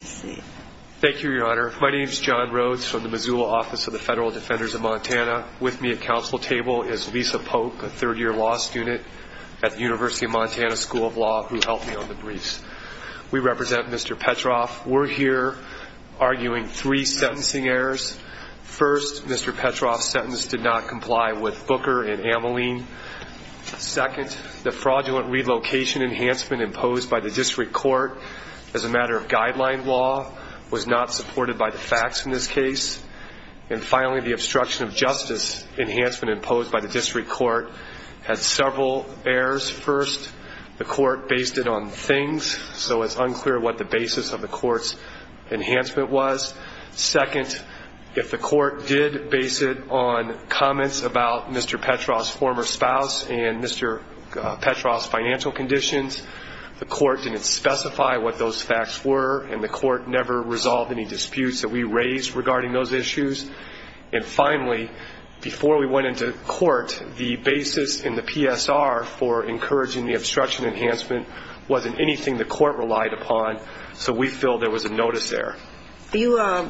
Thank you, Your Honor. My name is John Rhodes from the Missoula Office of the Federal Defenders of Montana. With me at council table is Lisa Pope, a third-year law student at the University of Montana School of Law, who helped me on the briefs. We represent Mr. Petroff. We're here arguing three sentencing errors. First, Mr. Petroff's sentence did not comply with Booker and Ameline. Second, the fraudulent relocation enhancement imposed by the district court as a matter of guideline law was not supported by the facts in this case. And finally, the obstruction of justice enhancement imposed by the district court had several errors. First, the court based it on things, so it's unclear what the basis of the court's enhancement was. Second, if the court did base it on comments about Mr. Petroff's former spouse and Mr. Petroff's financial conditions, the court didn't specify what those facts were, and the court never resolved any disputes that we raised regarding those issues. And finally, before we went into court, the basis in the PSR for encouraging the obstruction enhancement wasn't anything the court relied upon, so we feel there was a notice error. You are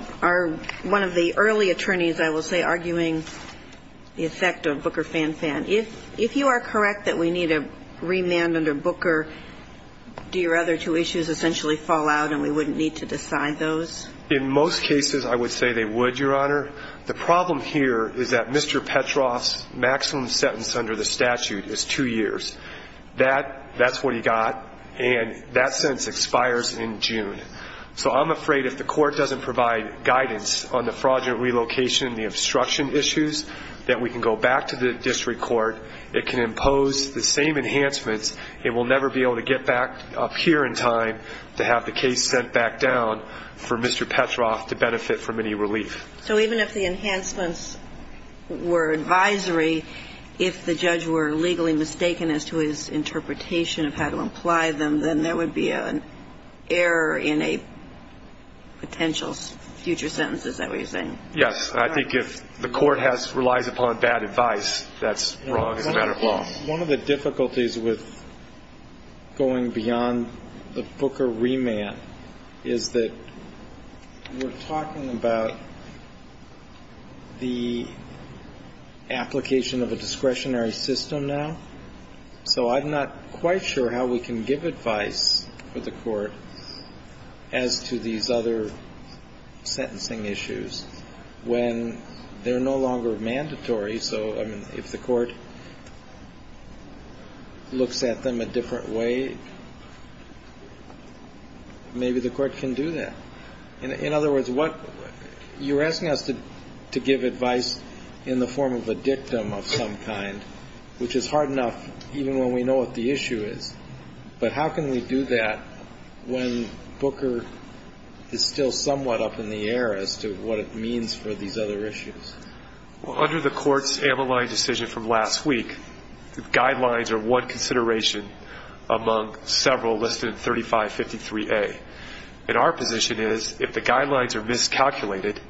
one of the early attorneys, I will say, arguing the effect of Booker-Fan-Fan. If you are correct that we need a remand under Booker, do your other two issues essentially fall out and we wouldn't need to decide those? In most cases, I would say they would, Your Honor. The problem here is that Mr. Petroff's maximum sentence under the statute is two years. That's what he got, and that sentence expires in June. So I'm afraid if the court doesn't provide guidance on the fraudulent relocation and the obstruction issues, that we can go back to the district court. It can impose the same enhancements. It will never be able to get back up here in time to have the case sent back down for Mr. Petroff to benefit from any relief. So even if the enhancements were advisory, if the judge were legally mistaken as to his interpretation of how to apply them, then there would be an error in a potential future sentence, is that what you're saying? Yes. I think if the court relies upon bad advice, that's wrong as a matter of law. One of the difficulties with going beyond the Booker remand is that we're talking about the application of a discretionary system now. So I'm not quite sure how we can give advice for the court as to these other sentencing issues when they're no longer mandatory. So, I mean, if the court looks at them a different way, maybe the court can do that. In other words, you're asking us to give advice in the form of a dictum of some kind, which is hard enough even when we know what the issue is, but how can we do that when Booker is still somewhat up in the air as to what it means for these other issues? Well, under the court's amyloid decision from last week, the guidelines are one consideration among several listed in 3553A. And our position is, if the guidelines are miscalculated,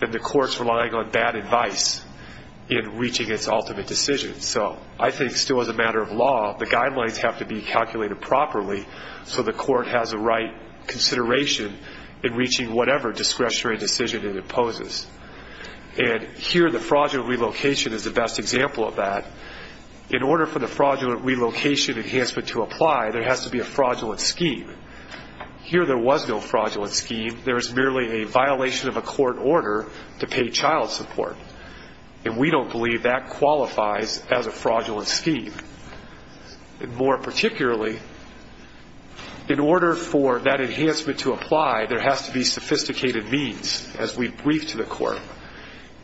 then the court's relying on bad advice in reaching its ultimate decision. So I think still as a matter of law, the guidelines have to be calculated properly so the court has the right consideration in reaching whatever discretionary decision it imposes. And here the fraudulent relocation is the best example of that. In order for the fraudulent relocation enhancement to apply, there has to be a fraudulent scheme. Here there was no fraudulent scheme. There was merely a violation of a court order to pay child support, and we don't believe that qualifies as a fraudulent scheme. More particularly, in order for that enhancement to apply, there has to be sophisticated means as we brief to the court.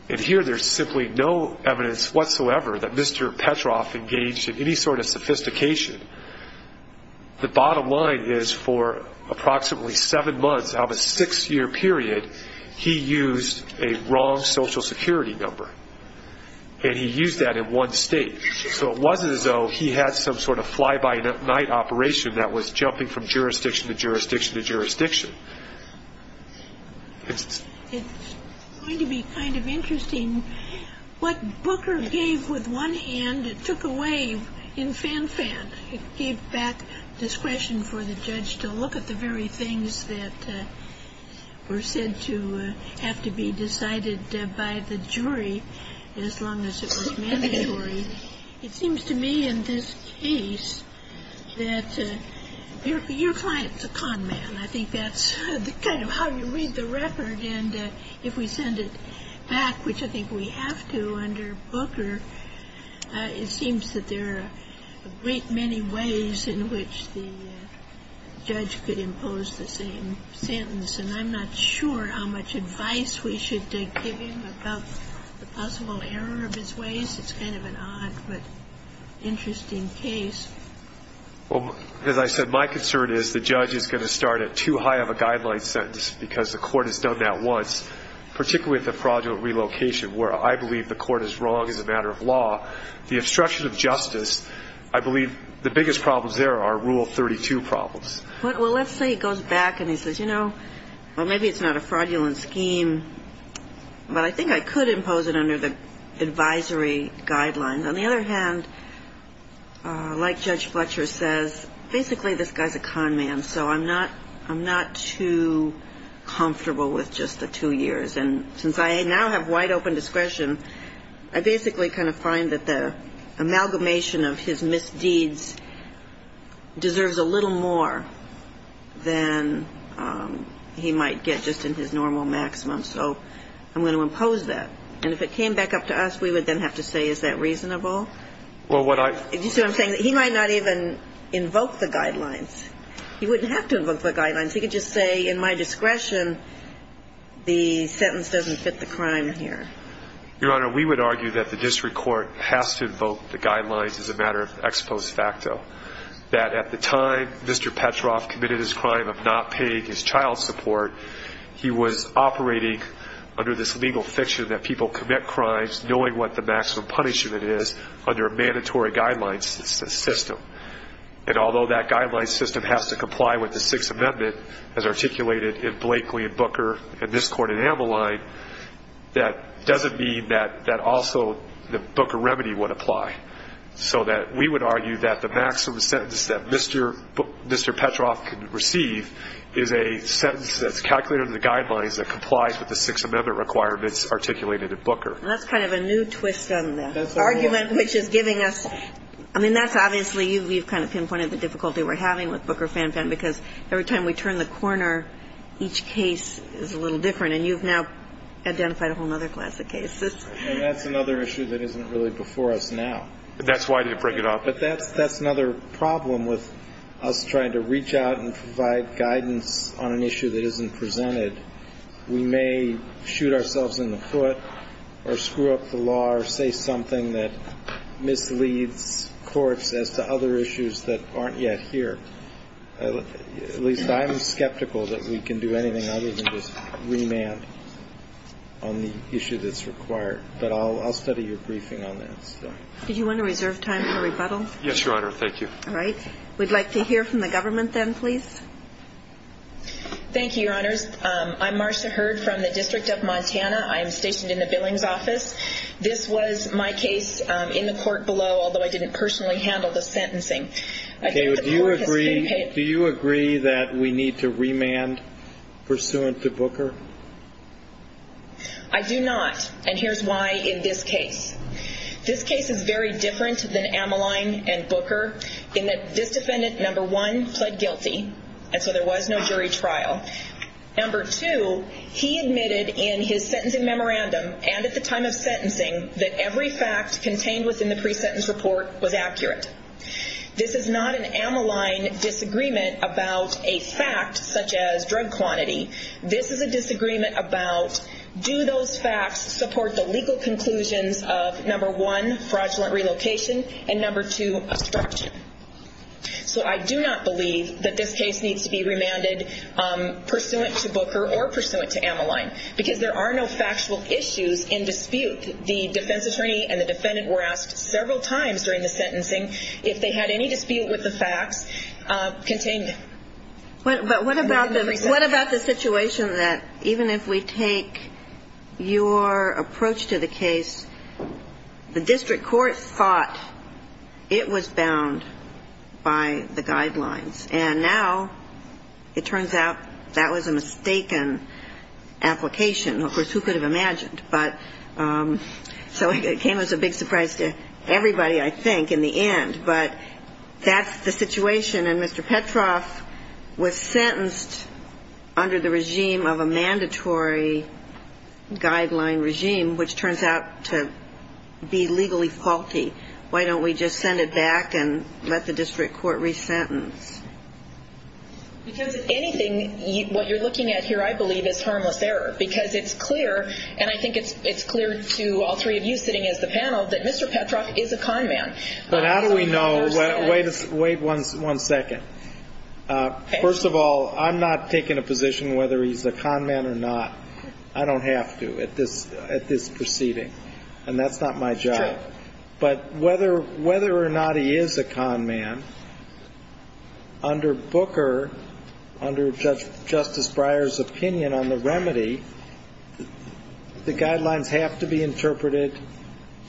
And here there's simply no evidence whatsoever that Mr. Petroff engaged in any sort of sophistication. The bottom line is for approximately seven months of a six-year period, he used a wrong Social Security number, and he used that in one state. So it wasn't as though he had some sort of fly-by-night operation that was jumping from jurisdiction to jurisdiction to jurisdiction. It's going to be kind of interesting. What Booker gave with one hand, it took away in fan-fan. It gave back discretion for the judge to look at the very things that were said to have to be decided by the jury, as long as it was mandatory. It seems to me in this case that your client's a con man. I think that's kind of how you read the record. And if we send it back, which I think we have to under Booker, it seems that there are a great many ways in which the judge could impose the same sentence. And I'm not sure how much advice we should give him about the possible error of his ways. It's kind of an odd but interesting case. Well, as I said, my concern is the judge is going to start at too high of a guideline sentence because the court has done that once, particularly at the fraudulent relocation, where I believe the court is wrong as a matter of law. The obstruction of justice, I believe the biggest problems there are Rule 32 problems. Well, let's say he goes back and he says, you know, well, maybe it's not a fraudulent scheme, but I think I could impose it under the advisory guidelines. On the other hand, like Judge Fletcher says, basically this guy's a con man, so I'm not too comfortable with just the two years. And since I now have wide open discretion, I basically kind of find that the amalgamation of his misdeeds deserves a little more than he might get just in his normal maximum. So I'm going to impose that. And if it came back up to us, we would then have to say, is that reasonable? You see what I'm saying? He might not even invoke the guidelines. He wouldn't have to invoke the guidelines. He could just say, in my discretion, the sentence doesn't fit the crime here. Your Honor, we would argue that the district court has to invoke the guidelines as a matter of ex post facto, that at the time Mr. Petroff committed his crime of not paying his child support, he was operating under this legal fiction that people commit crimes knowing what the maximum punishment is, under a mandatory guidelines system. And although that guidelines system has to comply with the Sixth Amendment, as articulated in Blakeley and Booker and this court in Ammaline, that doesn't mean that also the Booker remedy would apply. So we would argue that the maximum sentence that Mr. Petroff can receive is a sentence that's calculated under the guidelines that complies with the Sixth Amendment requirements articulated in Booker. And that's kind of a new twist on the argument, which is giving us – I mean, that's obviously – you've kind of pinpointed the difficulty we're having with Booker-Fan-Fan, because every time we turn the corner, each case is a little different, and you've now identified a whole other class of cases. I mean, that's another issue that isn't really before us now. That's why they break it off. But that's another problem with us trying to reach out and provide guidance on an issue that isn't presented. We may shoot ourselves in the foot or screw up the law or say something that misleads courts as to other issues that aren't yet here. At least I'm skeptical that we can do anything other than just remand on the issue that's required. But I'll study your briefing on that. Did you want to reserve time for rebuttal? Yes, Your Honor. Thank you. All right. We'd like to hear from the government then, please. Thank you, Your Honors. I'm Marcia Hurd from the District of Montana. I am stationed in the Billings office. This was my case in the court below, although I didn't personally handle the sentencing. Do you agree that we need to remand pursuant to Booker? I do not, and here's why in this case. This case is very different than Ameline and Booker, in that this defendant, number one, pled guilty, and so there was no jury trial. Number two, he admitted in his sentencing memorandum and at the time of sentencing that every fact contained within the pre-sentence report was accurate. This is not an Ameline disagreement about a fact such as drug quantity. This is a disagreement about do those facts support the legal conclusions of, number one, fraudulent relocation, and number two, obstruction. So I do not believe that this case needs to be remanded pursuant to Booker or pursuant to Ameline because there are no factual issues in dispute. The defense attorney and the defendant were asked several times during the sentencing if they had any dispute with the facts contained within the pre-sentence. But what about the situation that even if we take your approach to the case, the district court thought it was bound by the guidelines, and now it turns out that was a mistaken application. Of course, who could have imagined? But so it came as a big surprise to everybody, I think, in the end. But that's the situation. And Mr. Petroff was sentenced under the regime of a mandatory guideline regime, which turns out to be legally faulty. Why don't we just send it back and let the district court resentence? Because if anything, what you're looking at here, I believe, is harmless error because it's clear, and I think it's clear to all three of you sitting as the panel, that Mr. Petroff is a kind man. But how do we know? Wait one second. First of all, I'm not taking a position whether he's a con man or not. I don't have to at this proceeding, and that's not my job. But whether or not he is a con man, under Booker, under Justice Breyer's opinion on the remedy, the guidelines have to be interpreted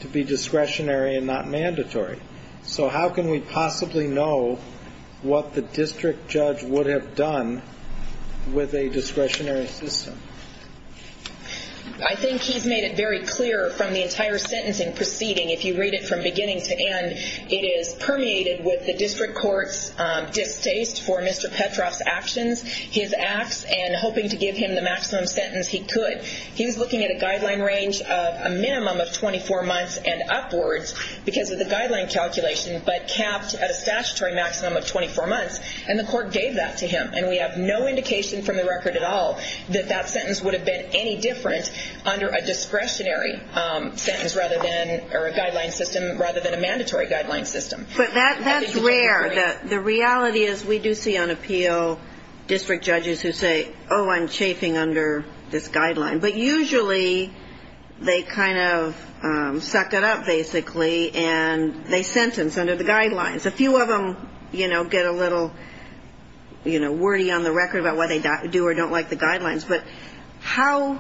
to be discretionary and not mandatory. So how can we possibly know what the district judge would have done with a discretionary system? I think he's made it very clear from the entire sentencing proceeding. If you read it from beginning to end, it is permeated with the district court's distaste for Mr. Petroff's actions, his acts, and hoping to give him the maximum sentence he could. He was looking at a guideline range of a minimum of 24 months and upwards because of the guideline calculation, but capped at a statutory maximum of 24 months, and the court gave that to him. And we have no indication from the record at all that that sentence would have been any different under a discretionary sentence or a guideline system rather than a mandatory guideline system. But that's rare. The reality is we do see on appeal district judges who say, oh, I'm chafing under this guideline. But usually they kind of suck it up, basically, and they sentence under the guidelines. A few of them, you know, get a little, you know, wordy on the record about why they do or don't like the guidelines. But how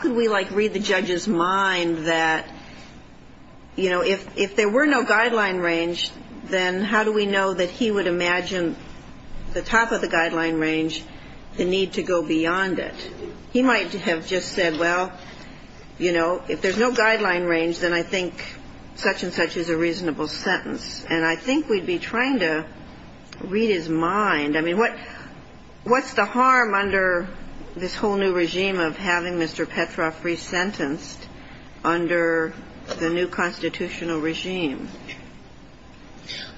could we, like, read the judge's mind that, you know, if there were no guideline range, then how do we know that he would imagine the top of the guideline range, the need to go beyond it? He might have just said, well, you know, if there's no guideline range, then I think such and such is a reasonable sentence. And I think we'd be trying to read his mind. I mean, what's the harm under this whole new regime of having Mr. Petroff resentenced under the new constitutional regime?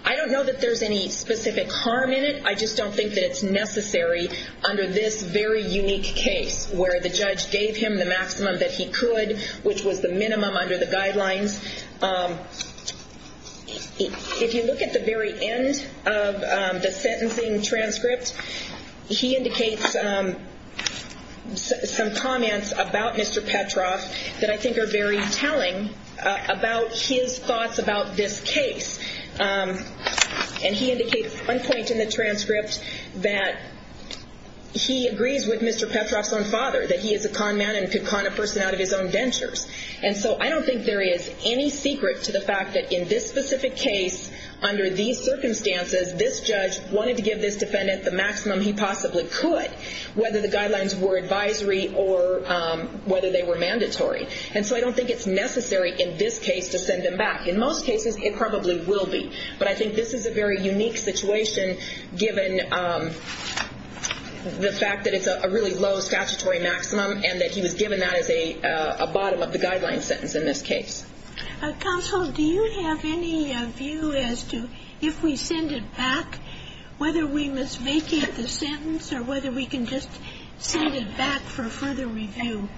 I don't know that there's any specific harm in it. I just don't think that it's necessary under this very unique case, where the judge gave him the maximum that he could, which was the minimum under the guidelines. If you look at the very end of the sentencing transcript, he indicates some comments about Mr. Petroff that I think are very telling about his thoughts about this case. And he indicates one point in the transcript that he agrees with Mr. Petroff's own father, that he is a con man and could con a person out of his own dentures. And so I don't think there is any secret to the fact that in this specific case, under these circumstances, this judge wanted to give this defendant the maximum he possibly could, whether the guidelines were advisory or whether they were mandatory. And so I don't think it's necessary in this case to send him back. In most cases, it probably will be. But I think this is a very unique situation, given the fact that it's a really low statutory maximum and that he was given that as a bottom of the guideline sentence in this case. Counsel, do you have any view as to if we send it back, whether we must vacate the sentence or whether we can just send it back for further review?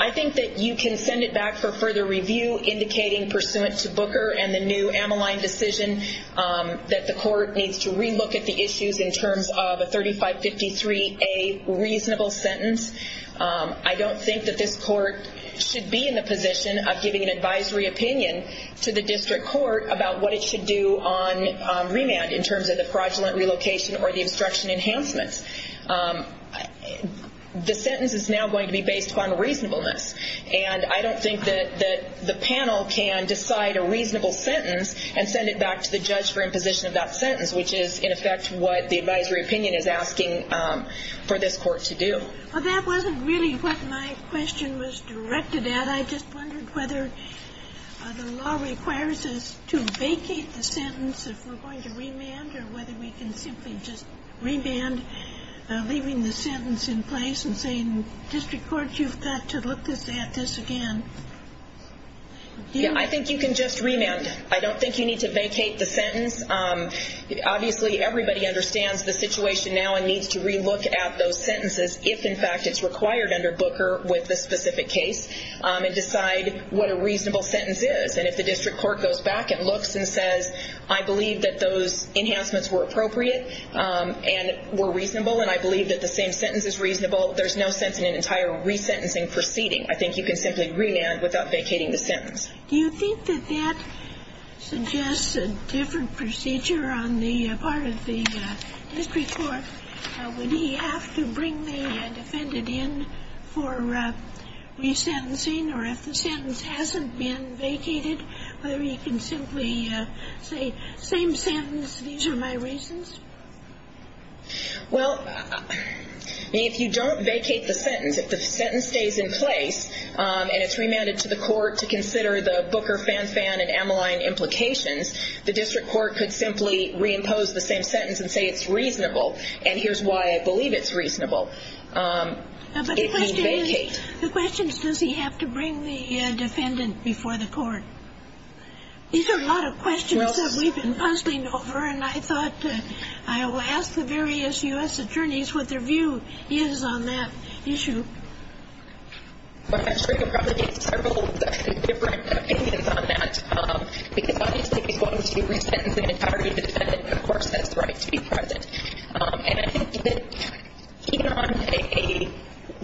I think that you can send it back for further review, indicating pursuant to Booker and the new Ammaline decision that the court needs to relook at the issues in terms of a 3553A reasonable sentence. I don't think that this court should be in the position of giving an advisory opinion to the district court about what it should do on remand in terms of the fraudulent relocation or the obstruction enhancements. The sentence is now going to be based upon reasonableness. And I don't think that the panel can decide a reasonable sentence and send it back to the judge for imposition of that sentence, which is, in effect, what the advisory opinion is asking for this court to do. Well, that wasn't really what my question was directed at. I just wondered whether the law requires us to vacate the sentence if we're going to remand or whether we can simply just remand, leaving the sentence in place and saying, District Court, you've got to look at this again. Yeah, I think you can just remand. I don't think you need to vacate the sentence. Obviously, everybody understands the situation now and everyone needs to relook at those sentences if, in fact, it's required under Booker with this specific case and decide what a reasonable sentence is. And if the district court goes back and looks and says, I believe that those enhancements were appropriate and were reasonable and I believe that the same sentence is reasonable, there's no sense in an entire resentencing proceeding. I think you can simply remand without vacating the sentence. Do you think that that suggests a different procedure on the part of the district court? Would he have to bring the defendant in for resentencing or if the sentence hasn't been vacated, whether he can simply say, same sentence, these are my reasons? Well, if you don't vacate the sentence, if the sentence stays in place and it's remanded to the court to consider the Booker, Fanfan, and Amaline implications, the district court could simply reimpose the same sentence and say it's reasonable and here's why I believe it's reasonable. But the question is, does he have to bring the defendant before the court? These are a lot of questions that we've been puzzling over and I thought I will ask the various U.S. attorneys what their view is on that issue. Well, I'm sure you can probably get several different opinions on that because obviously he's going to resent the entirety of the defendant but of course that's the right to be present. And I think that even on a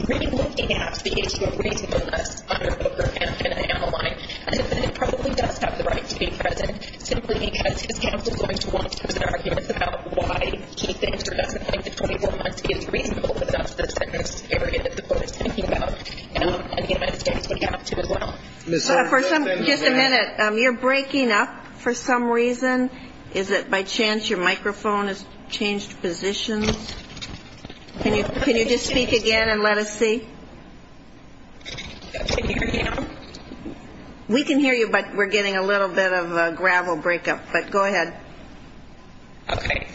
really looking at the issue of reasonableness under Booker, Fanfan, and Amaline, I think the defendant probably does have the right to be present simply because his counsel is going to want to present arguments about why he thinks or doesn't think that 24 months is reasonable and that's the type of area that the court is thinking about. And I think the U.S. attorney is going to have to as well. For some reason... Just a minute. You're breaking up for some reason. Is it by chance your microphone has changed positions? Can you just speak again and let us see? Can you hear me now? We can hear you but we're getting a little bit of a gravel breakup. But go ahead. Okay.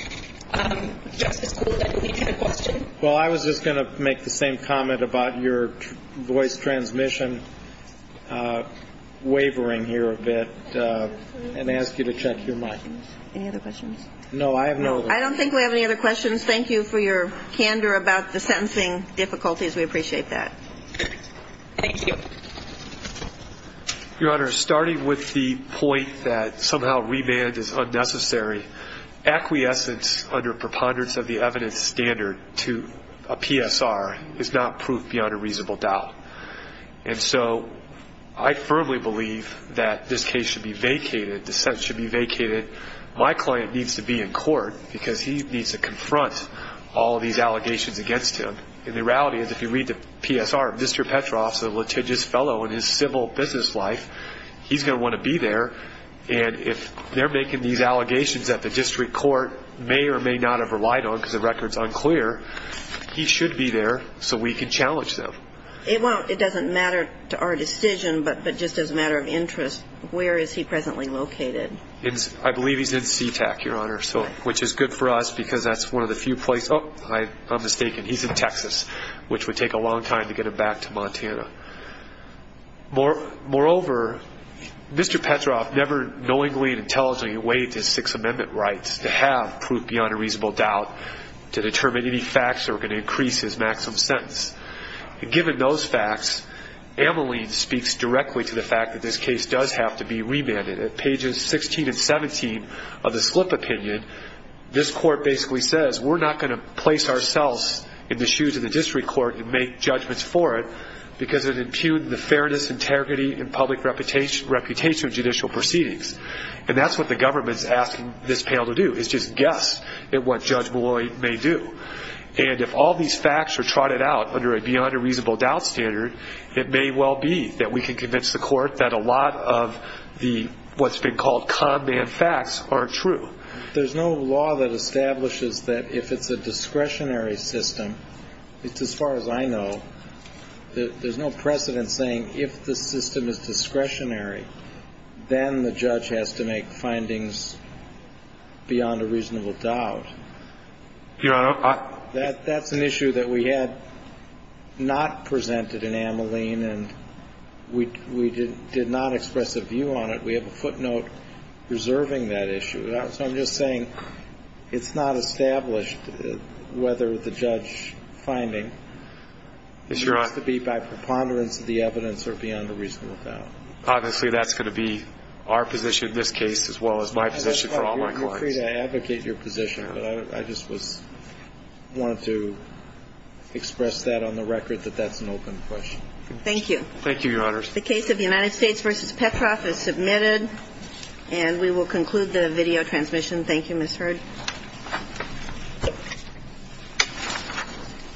Justice Gould, I believe you had a question. Well, I was just going to make the same comment about your voice transmission wavering here a bit and ask you to check your mic. Any other questions? No, I have no other questions. I don't think we have any other questions. Thank you for your candor about the sentencing difficulties. We appreciate that. Thank you. Your Honor, starting with the point that somehow reband is unnecessary, acquiescence under preponderance of the evidence standard to a PSR is not proof beyond a reasonable doubt. And so I firmly believe that this case should be vacated, dissent should be vacated. My client needs to be in court because he needs to confront all of these allegations against him. And the reality is if you read the PSR, Mr. Petroff is a litigious fellow in his civil business life. He's going to want to be there. And if they're making these allegations that the district court may or may not have relied on because the record is unclear, he should be there so we can challenge them. It doesn't matter to our decision, but just as a matter of interest, where is he presently located? I believe he's in SeaTac, Your Honor, which is good for us because that's one of the few places he's in Texas, which would take a long time to get him back to Montana. Moreover, Mr. Petroff never knowingly and intelligently waived his Sixth Amendment rights to have proof beyond a reasonable doubt to determine any facts that were going to increase his maximum sentence. And given those facts, Ameline speaks directly to the fact that this case does have to be remanded. At pages 16 and 17 of the slip opinion, this court basically says we're not going to place ourselves in the shoes of the district court and make judgments for it because it impugned the fairness, integrity, and public reputation of judicial proceedings. And that's what the government is asking this panel to do is just guess at what Judge Malloy may do. And if all these facts are trotted out under a beyond a reasonable doubt standard, it may well be that we can convince the court that a lot of what's been called con man facts aren't true. There's no law that establishes that if it's a discretionary system, it's as far as I know, there's no precedent saying if the system is discretionary, then the judge has to make findings beyond a reasonable doubt. Your Honor, I... That's an issue that we had not presented in Ameline and we did not express a view on it. We have a footnote reserving that issue. So I'm just saying it's not established whether the judge finding needs to be by preponderance of the evidence or beyond a reasonable doubt. Obviously, that's going to be our position in this case as well as my position for all my clients. You're free to advocate your position, but I just wanted to express that on the record that that's an open question. Thank you. Thank you, Your Honors. The case of United States v. Petroff is submitted and we will conclude the video transmission. Thank you, Ms. Hurd. Thank you.